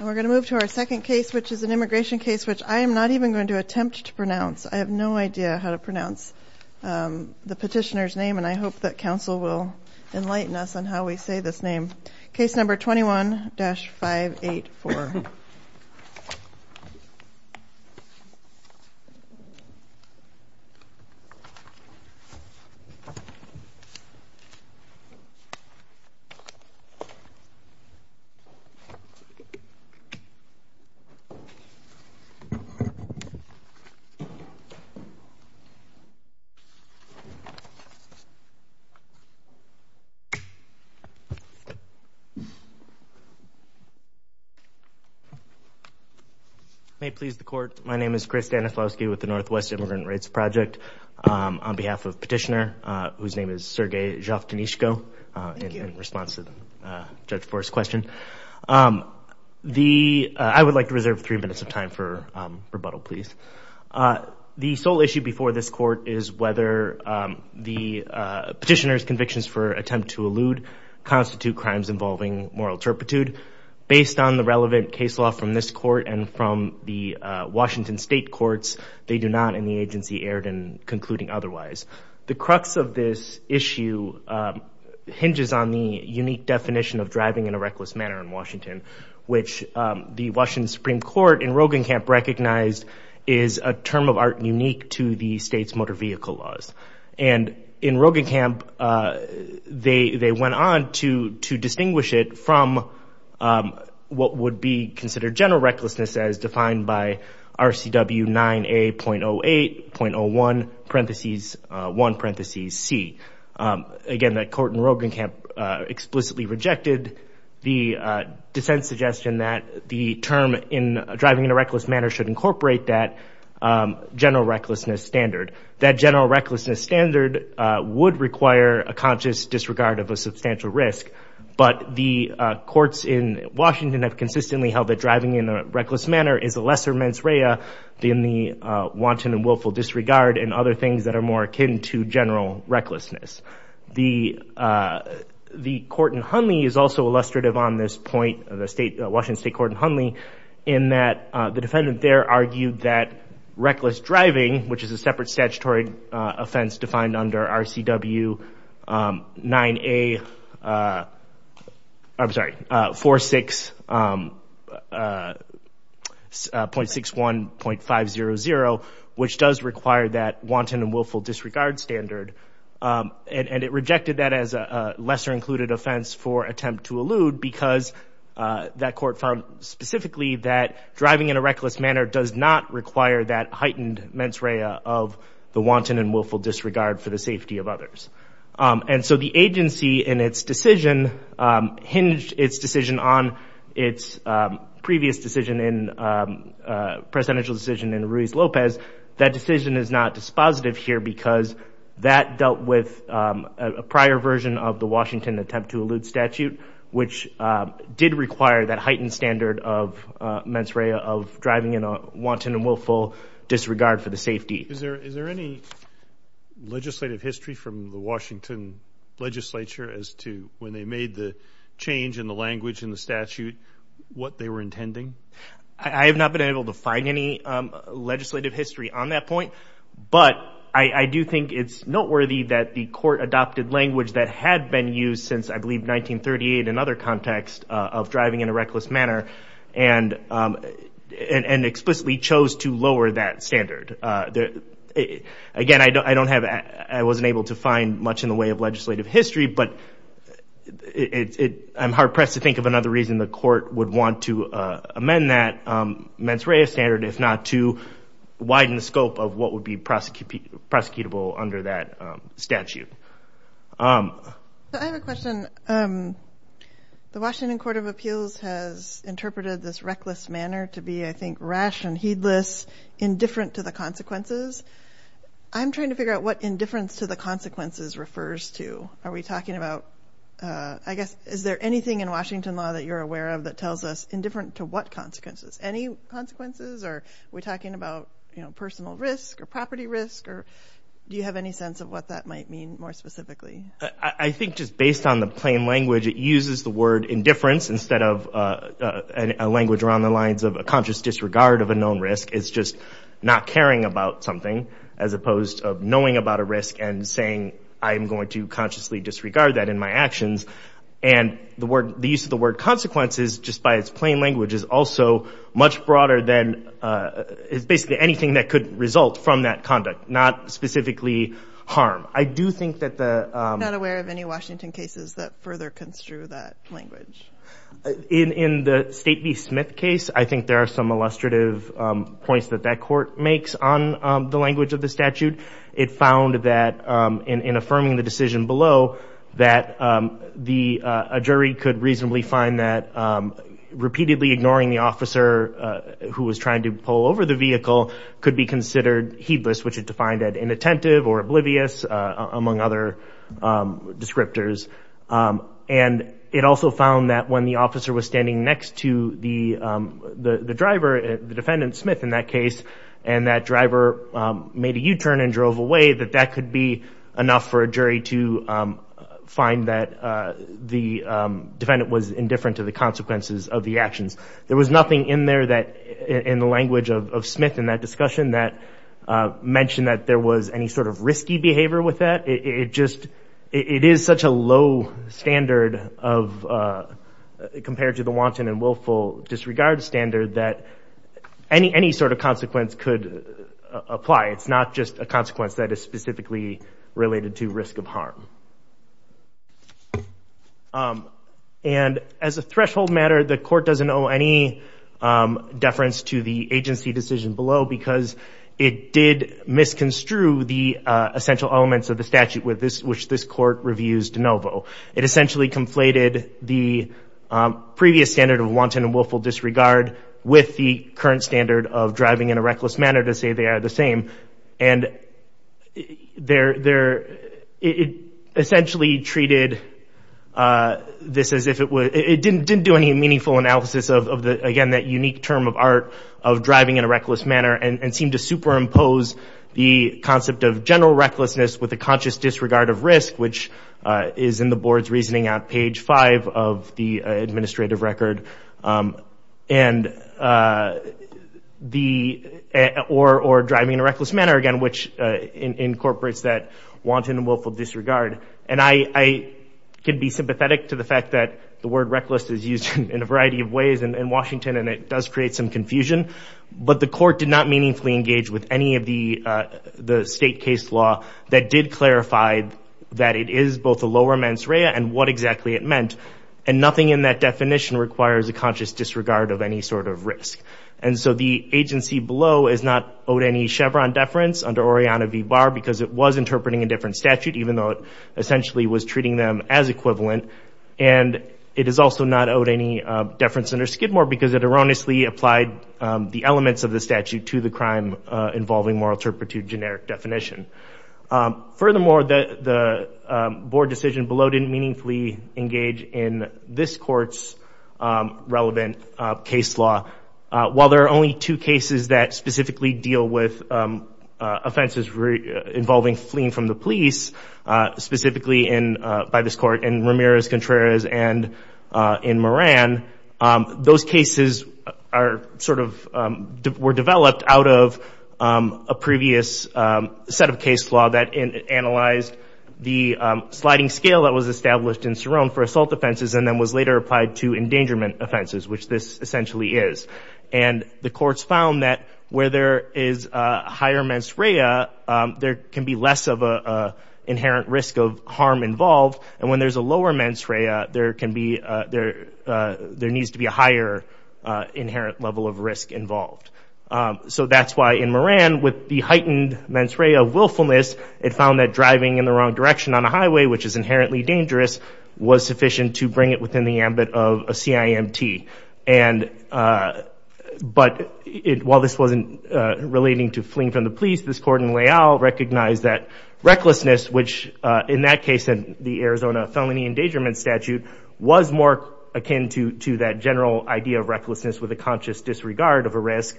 We're going to move to our second case, which is an immigration case, which I am not even going to attempt to pronounce. I have no idea how to pronounce the petitioner's name, and I hope that counsel will enlighten us on how we say this name. Case number 21-584. May it please the court, my name is Chris Danislavsky with the Northwest Immigrant Rights Project. On behalf of petitioner, whose name is Sergei Zhovtonizhko, in response to the judge for his question, I would like to reserve three minutes of time for rebuttal, please. The sole issue before this court is whether the petitioner's convictions for attempt to involving moral turpitude, based on the relevant case law from this court and from the Washington state courts, they do not in the agency erred in concluding otherwise. The crux of this issue hinges on the unique definition of driving in a reckless manner in Washington, which the Washington Supreme Court in Roggenkamp recognized is a term of art unique to the state's motor vehicle laws. And in Roggenkamp, they went on to distinguish it from what would be considered general recklessness as defined by RCW 9A.08.01, parentheses, 1, parentheses, C. Again that court in Roggenkamp explicitly rejected the dissent suggestion that the term in driving in a reckless manner should incorporate that general recklessness standard. That general recklessness standard would require a conscious disregard of a substantial risk, but the courts in Washington have consistently held that driving in a reckless manner is a lesser mens rea than the wanton and willful disregard and other things that are more akin to general recklessness. The court in Hunley is also illustrative on this point, the Washington state court in that the defendant there argued that reckless driving, which is a separate statutory offense defined under RCW 9A, I'm sorry, 46.61.500, which does require that wanton and willful disregard standard. And it rejected that as a lesser included offense for attempt to allude because that explicitly that driving in a reckless manner does not require that heightened mens rea of the wanton and willful disregard for the safety of others. And so the agency in its decision hinged its decision on its previous decision in, presidential decision in Ruiz Lopez, that decision is not dispositive here because that dealt with a prior version of the Washington attempt to allude statute, which did require that heightened standard of mens rea of driving in a wanton and willful disregard for the safety. Is there any legislative history from the Washington legislature as to when they made the change in the language in the statute, what they were intending? I have not been able to find any legislative history on that point, but I do think it's noteworthy that the court adopted language that had been used since I believe 1938 and other context of driving in a reckless manner and explicitly chose to lower that standard. Again, I don't have, I wasn't able to find much in the way of legislative history, but I'm hard pressed to think of another reason the court would want to amend that mens rea standard if not to widen the scope of what would be prosecutable under that statute. I have a question. The Washington Court of Appeals has interpreted this reckless manner to be, I think, rash and heedless, indifferent to the consequences. I'm trying to figure out what indifference to the consequences refers to. Are we talking about, I guess, is there anything in Washington law that you're aware of that tells us indifferent to what consequences? Any consequences or are we talking about personal risk or property risk or do you have any sense of what that might mean more specifically? I think just based on the plain language it uses the word indifference instead of a language around the lines of a conscious disregard of a known risk. It's just not caring about something as opposed to knowing about a risk and saying, I'm going to consciously disregard that in my actions. And the use of the word consequences just by its plain language is also much broader than basically anything that could result from that conduct, not specifically harm. I do think that the... I'm not aware of any Washington cases that further construe that language. In the State v. Smith case, I think there are some illustrative points that that court makes on the language of the statute. It found that in affirming the decision below that a jury could reasonably find that repeatedly ignoring the officer who was trying to pull over the vehicle could be considered heedless, which is defined as inattentive or oblivious, among other descriptors. And it also found that when the officer was standing next to the driver, the defendant, Smith in that case, and that driver made a U-turn and drove away, that that could be There was nothing in there that, in the language of Smith in that discussion, that mentioned that there was any sort of risky behavior with that. It just, it is such a low standard of, compared to the wanton and willful disregard standard that any sort of consequence could apply. It's not just a consequence that is specifically related to risk of harm. And, as a threshold matter, the court doesn't owe any deference to the agency decision below because it did misconstrue the essential elements of the statute with this, which this court reviews de novo. It essentially conflated the previous standard of wanton and willful disregard with the current standard of driving in a reckless manner to say they are the same. And it essentially treated this as if it were, it didn't do any meaningful analysis of, again, that unique term of art of driving in a reckless manner and seemed to superimpose the concept of general recklessness with a conscious disregard of risk, which is in the board's reasoning out page five of the administrative record, and the, or driving in a reckless manner, again, which incorporates that wanton and willful disregard. And I could be sympathetic to the fact that the word reckless is used in a variety of ways in Washington and it does create some confusion, but the court did not meaningfully engage with any of the state case law that did clarify that it is both a lower mens rea and what exactly it meant. And nothing in that definition requires a conscious disregard of any sort of risk. And so the agency below is not owed any Chevron deference under Oriana v. Barr because it was interpreting a different statute, even though it essentially was treating them as equivalent. And it is also not owed any deference under Skidmore because it erroneously applied the elements of the statute to the crime involving moral turpitude generic definition. Furthermore, the board decision below didn't meaningfully engage in this court's relevant case law. While there are only two cases that specifically deal with offenses involving fleeing from the police, specifically in, by this court, in Ramirez-Contreras and in Moran, those cases are sort of, were developed out of a previous set of case law that analyzed the sliding scale that was established in Cerrone for assault offenses and then was later applied to endangerment offenses, which this essentially is. And the courts found that where there is a higher mens rea, there can be less of an inherent risk of harm involved. And when there's a lower mens rea, there can be, there needs to be a higher inherent level of risk involved. So that's why in Moran, with the heightened mens rea of willfulness, it found that driving in the wrong direction on a highway, which is inherently dangerous, was sufficient to bring it within the ambit of a CIMT. And, but while this wasn't relating to fleeing from the police, this court in Leal recognized that recklessness, which in that case, in the Arizona Felony Endangerment Statute, was more akin to that general idea of recklessness with a conscious disregard of a risk,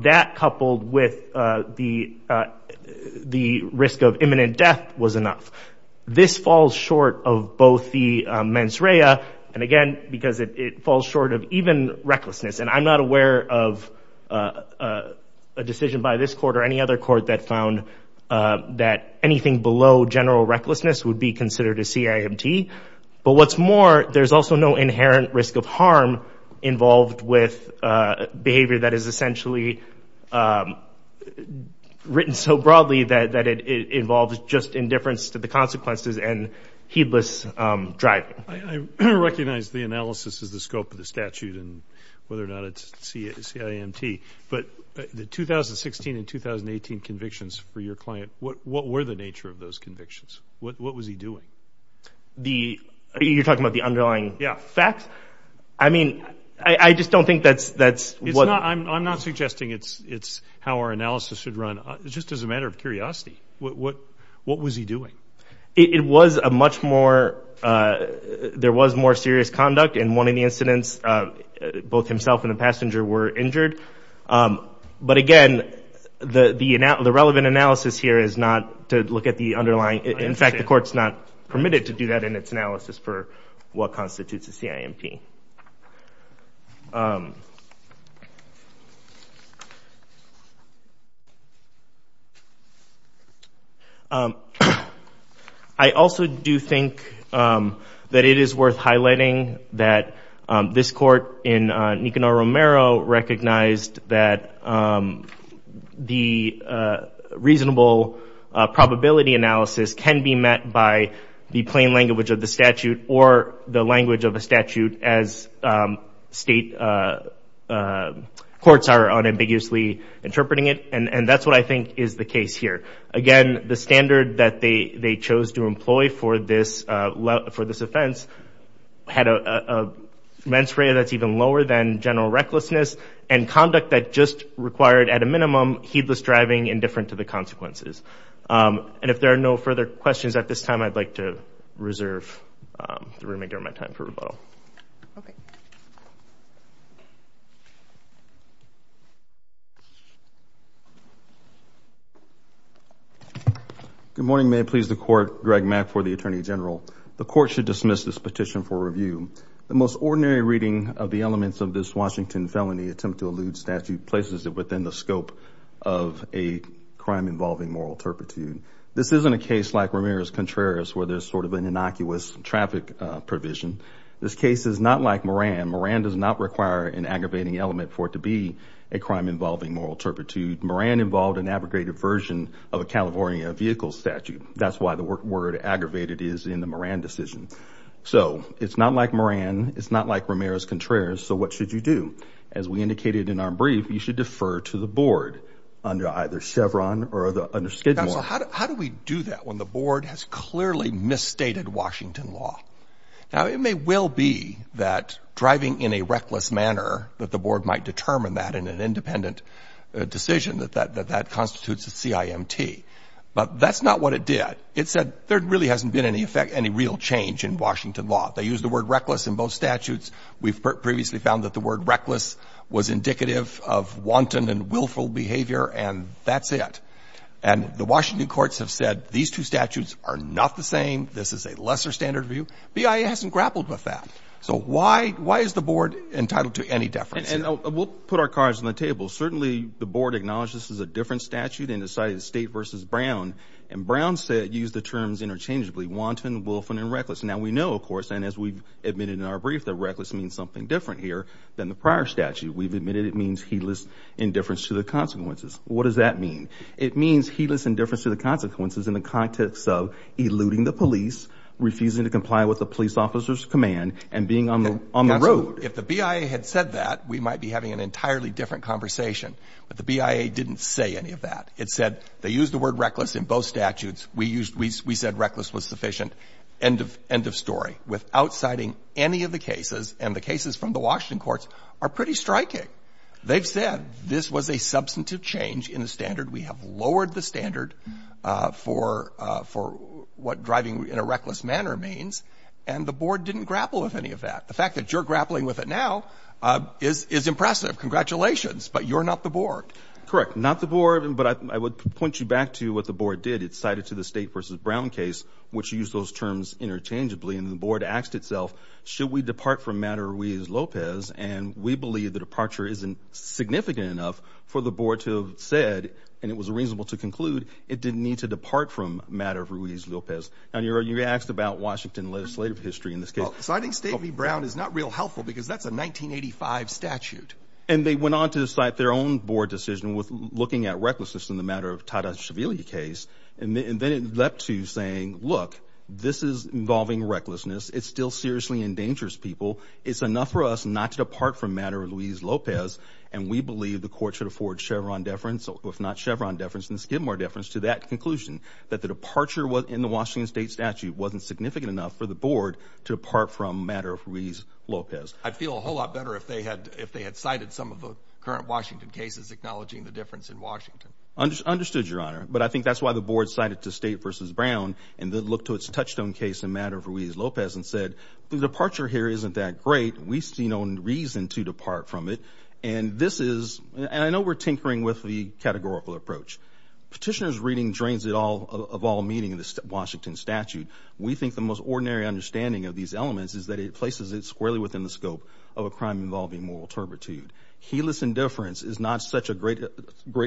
that coupled with the risk of imminent death was enough. This falls short of both the mens rea, and again, because it falls short of even recklessness. And I'm not aware of a decision by this court or any other court that found that anything below general recklessness would be considered a CIMT. But what's more, there's also no inherent risk of harm involved with behavior that is essentially written so broadly that it involves just indifference to the consequences and heedless driving. I recognize the analysis is the scope of the statute and whether or not it's CIMT, but the 2016 and 2018 convictions for your client, what were the nature of those convictions? What was he doing? The, you're talking about the underlying facts? Yeah. I mean, I just don't think that's what... I'm not suggesting it's how our analysis should run. Just as a matter of curiosity, what was he doing? It was a much more... There was more serious conduct in one of the incidents, both himself and the passenger were injured. But again, the relevant analysis here is not to look at the underlying... In fact, the court's not permitted to do that in its analysis for what constitutes a CIMT. I also do think that it is worth highlighting that this court in Nicanor Romero recognized that the reasonable probability analysis can be met by the plain language of the statute or the language of a statute as state courts are unambiguously interpreting it. And that's what I think is the case here. Again, the standard that they chose to employ for this offense had a men's rate that's even lower than general recklessness and conduct that just required at a minimum heedless driving and different to the consequences. And if there are no further questions at this time, I'd like to reserve the room and give my time for rebuttal. Okay. Good morning. May it please the court. Greg Mack for the Attorney General. The court should dismiss this petition for review. The most ordinary reading of the elements of this Washington felony attempt to allude statute places it within the scope of a crime involving moral turpitude. This isn't a case like Romero's Contreras where there's sort of an innocuous traffic provision. This case is not like Moran. Moran does not require an aggravating element for it to be a crime involving moral turpitude. Moran involved an abrogated version of a California vehicle statute. That's why the word aggravated is in the Moran decision. So it's not like Moran. It's not like Romero's Contreras. So what should you do? As we indicated in our brief, you should defer to the board under either Chevron or under Schedule I. Counsel, how do we do that when the board has clearly misstated Washington law? Now, it may well be that driving in a reckless manner that the board might determine that in an independent decision that that constitutes a CIMT. But that's not what it did. It said there really hasn't been any effect, any real change in Washington law. They used the word reckless in both statutes. We've previously found that the word reckless was indicative of wanton and willful behavior and that's it. And the Washington courts have said these two statutes are not the same, this is a lesser standard of view. BIA hasn't grappled with that. So why is the board entitled to any deference? And we'll put our cards on the table. Certainly, the board acknowledged this is a different statute and decided State versus Brown and Brown said use the terms interchangeably, wanton, willful, and reckless. Now we know, of course, and as we've admitted in our brief, that reckless means something different here than the prior statute. We've admitted it means heedless, indifference to the consequences. What does that mean? It means heedless, indifference to the consequences in the context of eluding the police, refusing to comply with the police officer's command, and being on the road. If the BIA had said that, we might be having an entirely different conversation. But the BIA didn't say any of that. It said they used the word reckless in both statutes. We used, we said reckless was sufficient. End of story. Without citing any of the cases, and the cases from the Washington courts are pretty striking. They've said this was a substantive change in the standard. We have lowered the standard for what driving in a reckless manner means. And the board didn't grapple with any of that. The fact that you're grappling with it now is impressive. Congratulations. But you're not the board. Correct. Not the board. But I would point you back to what the board did. It cited to the State v. Brown case, which used those terms interchangeably, and the board asked itself, should we depart from matter Ruiz-Lopez? And we believe the departure isn't significant enough for the board to have said, and it was reasonable to conclude, it didn't need to depart from matter Ruiz-Lopez. And you asked about Washington legislative history in this case. So I think State v. Brown is not real helpful because that's a 1985 statute. And they went on to cite their own board decision with looking at recklessness in the matter of Tata-Shaville case, and then it leapt to saying, look, this is involving recklessness. It's still seriously endangers people. It's enough for us not to depart from matter Ruiz-Lopez, and we believe the court should afford Chevron deference, if not Chevron deference, then Skidmore deference to that conclusion, that the departure in the Washington state statute wasn't significant enough for the board to have said, should we depart from matter Ruiz-Lopez? I'd feel a whole lot better if they had cited some of the current Washington cases acknowledging the difference in Washington. Understood, Your Honor. But I think that's why the board cited to State v. Brown, and then looked to its touchstone case in matter Ruiz-Lopez and said, the departure here isn't that great. We see no reason to depart from it. And this is, and I know we're tinkering with the categorical approach. Petitioner's reading drains it all, of all meaning in the Washington statute. We think the most ordinary understanding of these elements is that it places it squarely within the scope of a crime involving moral turpitude. Heedless indifference is not such a great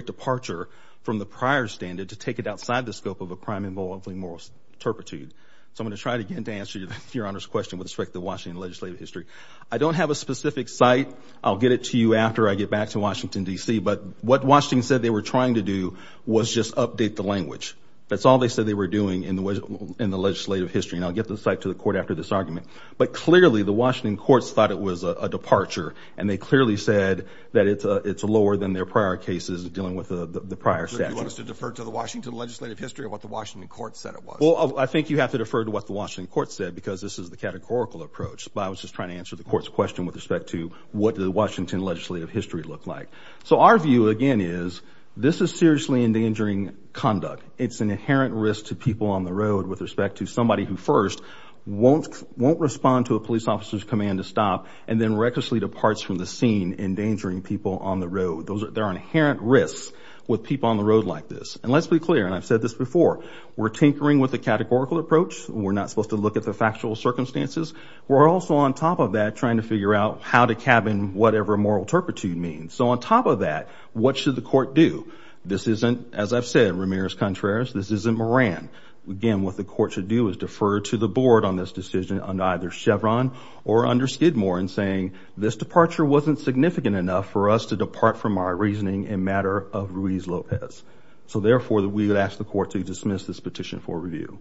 departure from the prior standard to take it outside the scope of a crime involving moral turpitude. So I'm going to try again to answer Your Honor's question with respect to Washington legislative history. I don't have a specific site. I'll get it to you after I get back to Washington, D.C., but what Washington said they were trying to do was just update the language. That's all they said they were doing in the legislative history, and I'll get the site to the court after this argument. But clearly, the Washington courts thought it was a departure, and they clearly said that it's lower than their prior cases dealing with the prior statute. Do you want us to defer to the Washington legislative history or what the Washington court said it was? Well, I think you have to defer to what the Washington court said, because this is the categorical approach. But I was just trying to answer the court's question with respect to what the Washington legislative history looked like. So our view, again, is this is seriously endangering conduct. It's an inherent risk to people on the road with respect to somebody who first won't respond to a police officer's command to stop and then recklessly departs from the scene, endangering people on the road. There are inherent risks with people on the road like this. And let's be clear, and I've said this before, we're tinkering with the categorical approach. We're not supposed to look at the factual circumstances. We're also, on top of that, trying to figure out how to cabin whatever moral turpitude means. So on top of that, what should the court do? This isn't, as I've said, Ramirez-Contreras. This isn't Moran. Again, what the court should do is defer to the board on this decision under either Chevron or under Skidmore in saying this departure wasn't significant enough for us to depart from our reasoning in matter of Ruiz-Lopez. So therefore, we would ask the court to dismiss this petition for review.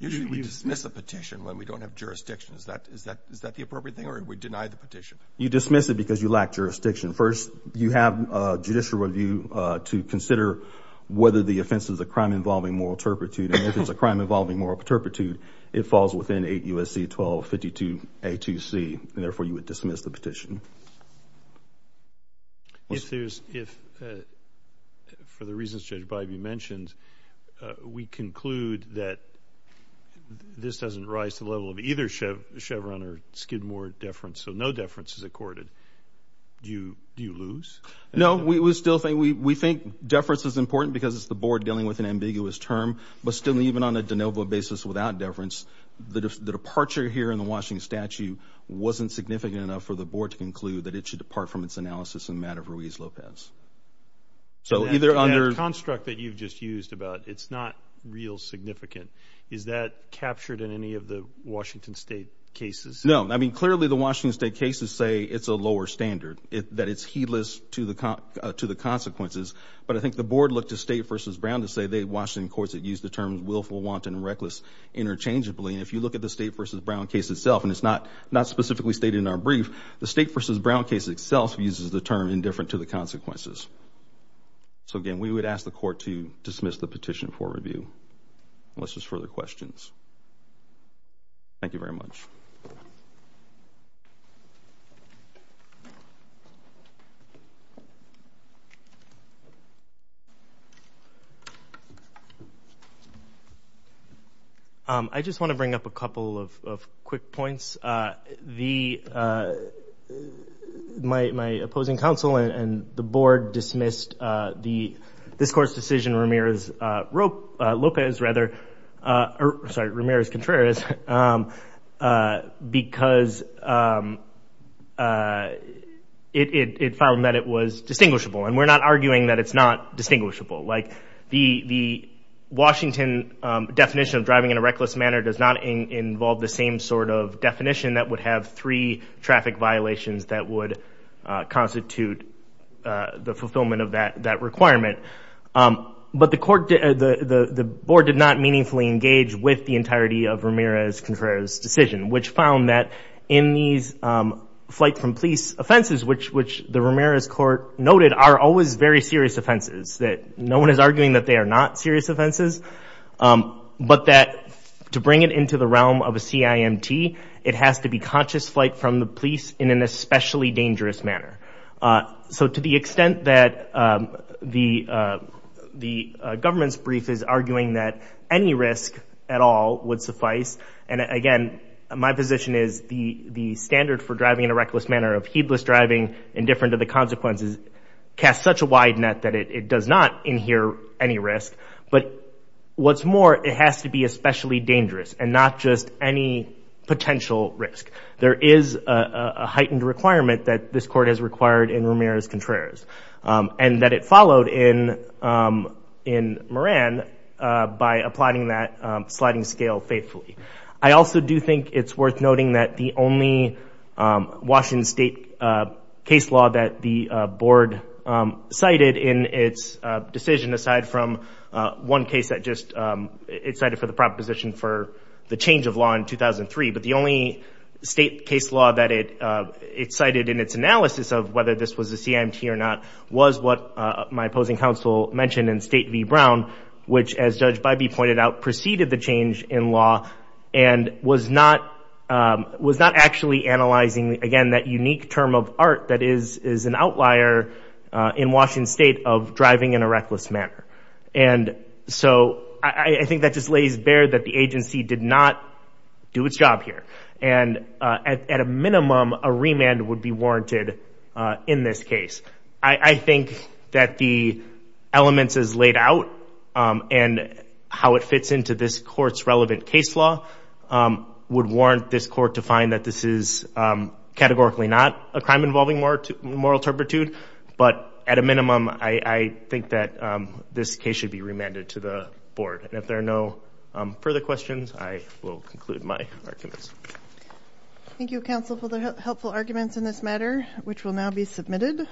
Usually, we dismiss a petition when we don't have jurisdiction. Is that the appropriate thing or we deny the petition? You dismiss it because you lack jurisdiction. First, you have judicial review to consider whether the offense is a crime involving moral turpitude. And if it's a crime involving moral turpitude, it falls within 8 U.S.C. 1252a2c. And therefore, you would dismiss the petition. If there's, if, for the reasons Judge Bybee mentioned, we conclude that this doesn't rise to the level of either Chevron or Skidmore deference. So no deference is accorded. Do you lose? No. We still think, we think deference is important because it's the board dealing with an ambiguous term. But still, even on a de novo basis without deference, the departure here in the Washington statute wasn't significant enough for the board to conclude that it should depart from its analysis in matter of Ruiz-Lopez. So either under. That construct that you've just used about it's not real significant, is that captured in any of the Washington State cases? No. I mean, clearly, the Washington State cases say it's a lower standard, that it's heedless to the consequences. But I think the board looked to State v. Brown to say they, Washington courts, have used the terms willful, wanton, and reckless interchangeably. If you look at the State v. Brown case itself, and it's not specifically stated in our brief, the State v. Brown case itself uses the term indifferent to the consequences. So again, we would ask the court to dismiss the petition for review, unless there's further questions. Thank you very much. I just want to bring up a couple of quick points. My opposing counsel and the board dismissed this court's decision, Ramirez-Contreras, because it found that it was distinguishable. And we're not arguing that it's not distinguishable. The Washington definition of driving in a reckless manner does not involve the same sort of definition that would have three traffic violations that would constitute the fulfillment of that requirement. But the board did not meaningfully engage with the entirety of Ramirez-Contreras' decision, which found that in these flight from police offenses, which the Ramirez court noted are always very serious offenses, that no one is arguing that they are not serious offenses, but that to bring it into the realm of a CIMT, it has to be conscious flight from the police in an especially dangerous manner. So to the extent that the government's brief is arguing that any risk at all would suffice, and again, my position is the standard for driving in a reckless manner of heedless driving, indifferent to the consequences, casts such a wide net that it does not inhere any risk. But what's more, it has to be especially dangerous, and not just any potential risk. There is a heightened requirement that this court has required in Ramirez-Contreras, and that it followed in Moran by applying that sliding scale faithfully. I also do think it's worth noting that the only Washington state case law that the board cited in its decision, aside from one case that just, it cited for the proposition for the change of law in 2003, but the only state case law that it cited in its analysis of whether this was a CIMT or not, was what my opposing counsel mentioned in State v. Brown, which as Judge Bybee pointed out, preceded the change in law, and was not actually analyzing, again, that unique term of art that is an outlier in Washington state of driving in a reckless manner. And so I think that just lays bare that the agency did not do its job here. And at a minimum, a remand would be warranted in this case. I think that the elements as laid out, and how it fits into this court's relevant case law, would warrant this court to find that this is categorically not a crime involving moral turpitude. But at a minimum, I think that this case should be remanded to the board. And if there are no further questions, I will conclude my arguments. Thank you, counsel, for the helpful arguments in this matter, which will now be submitted.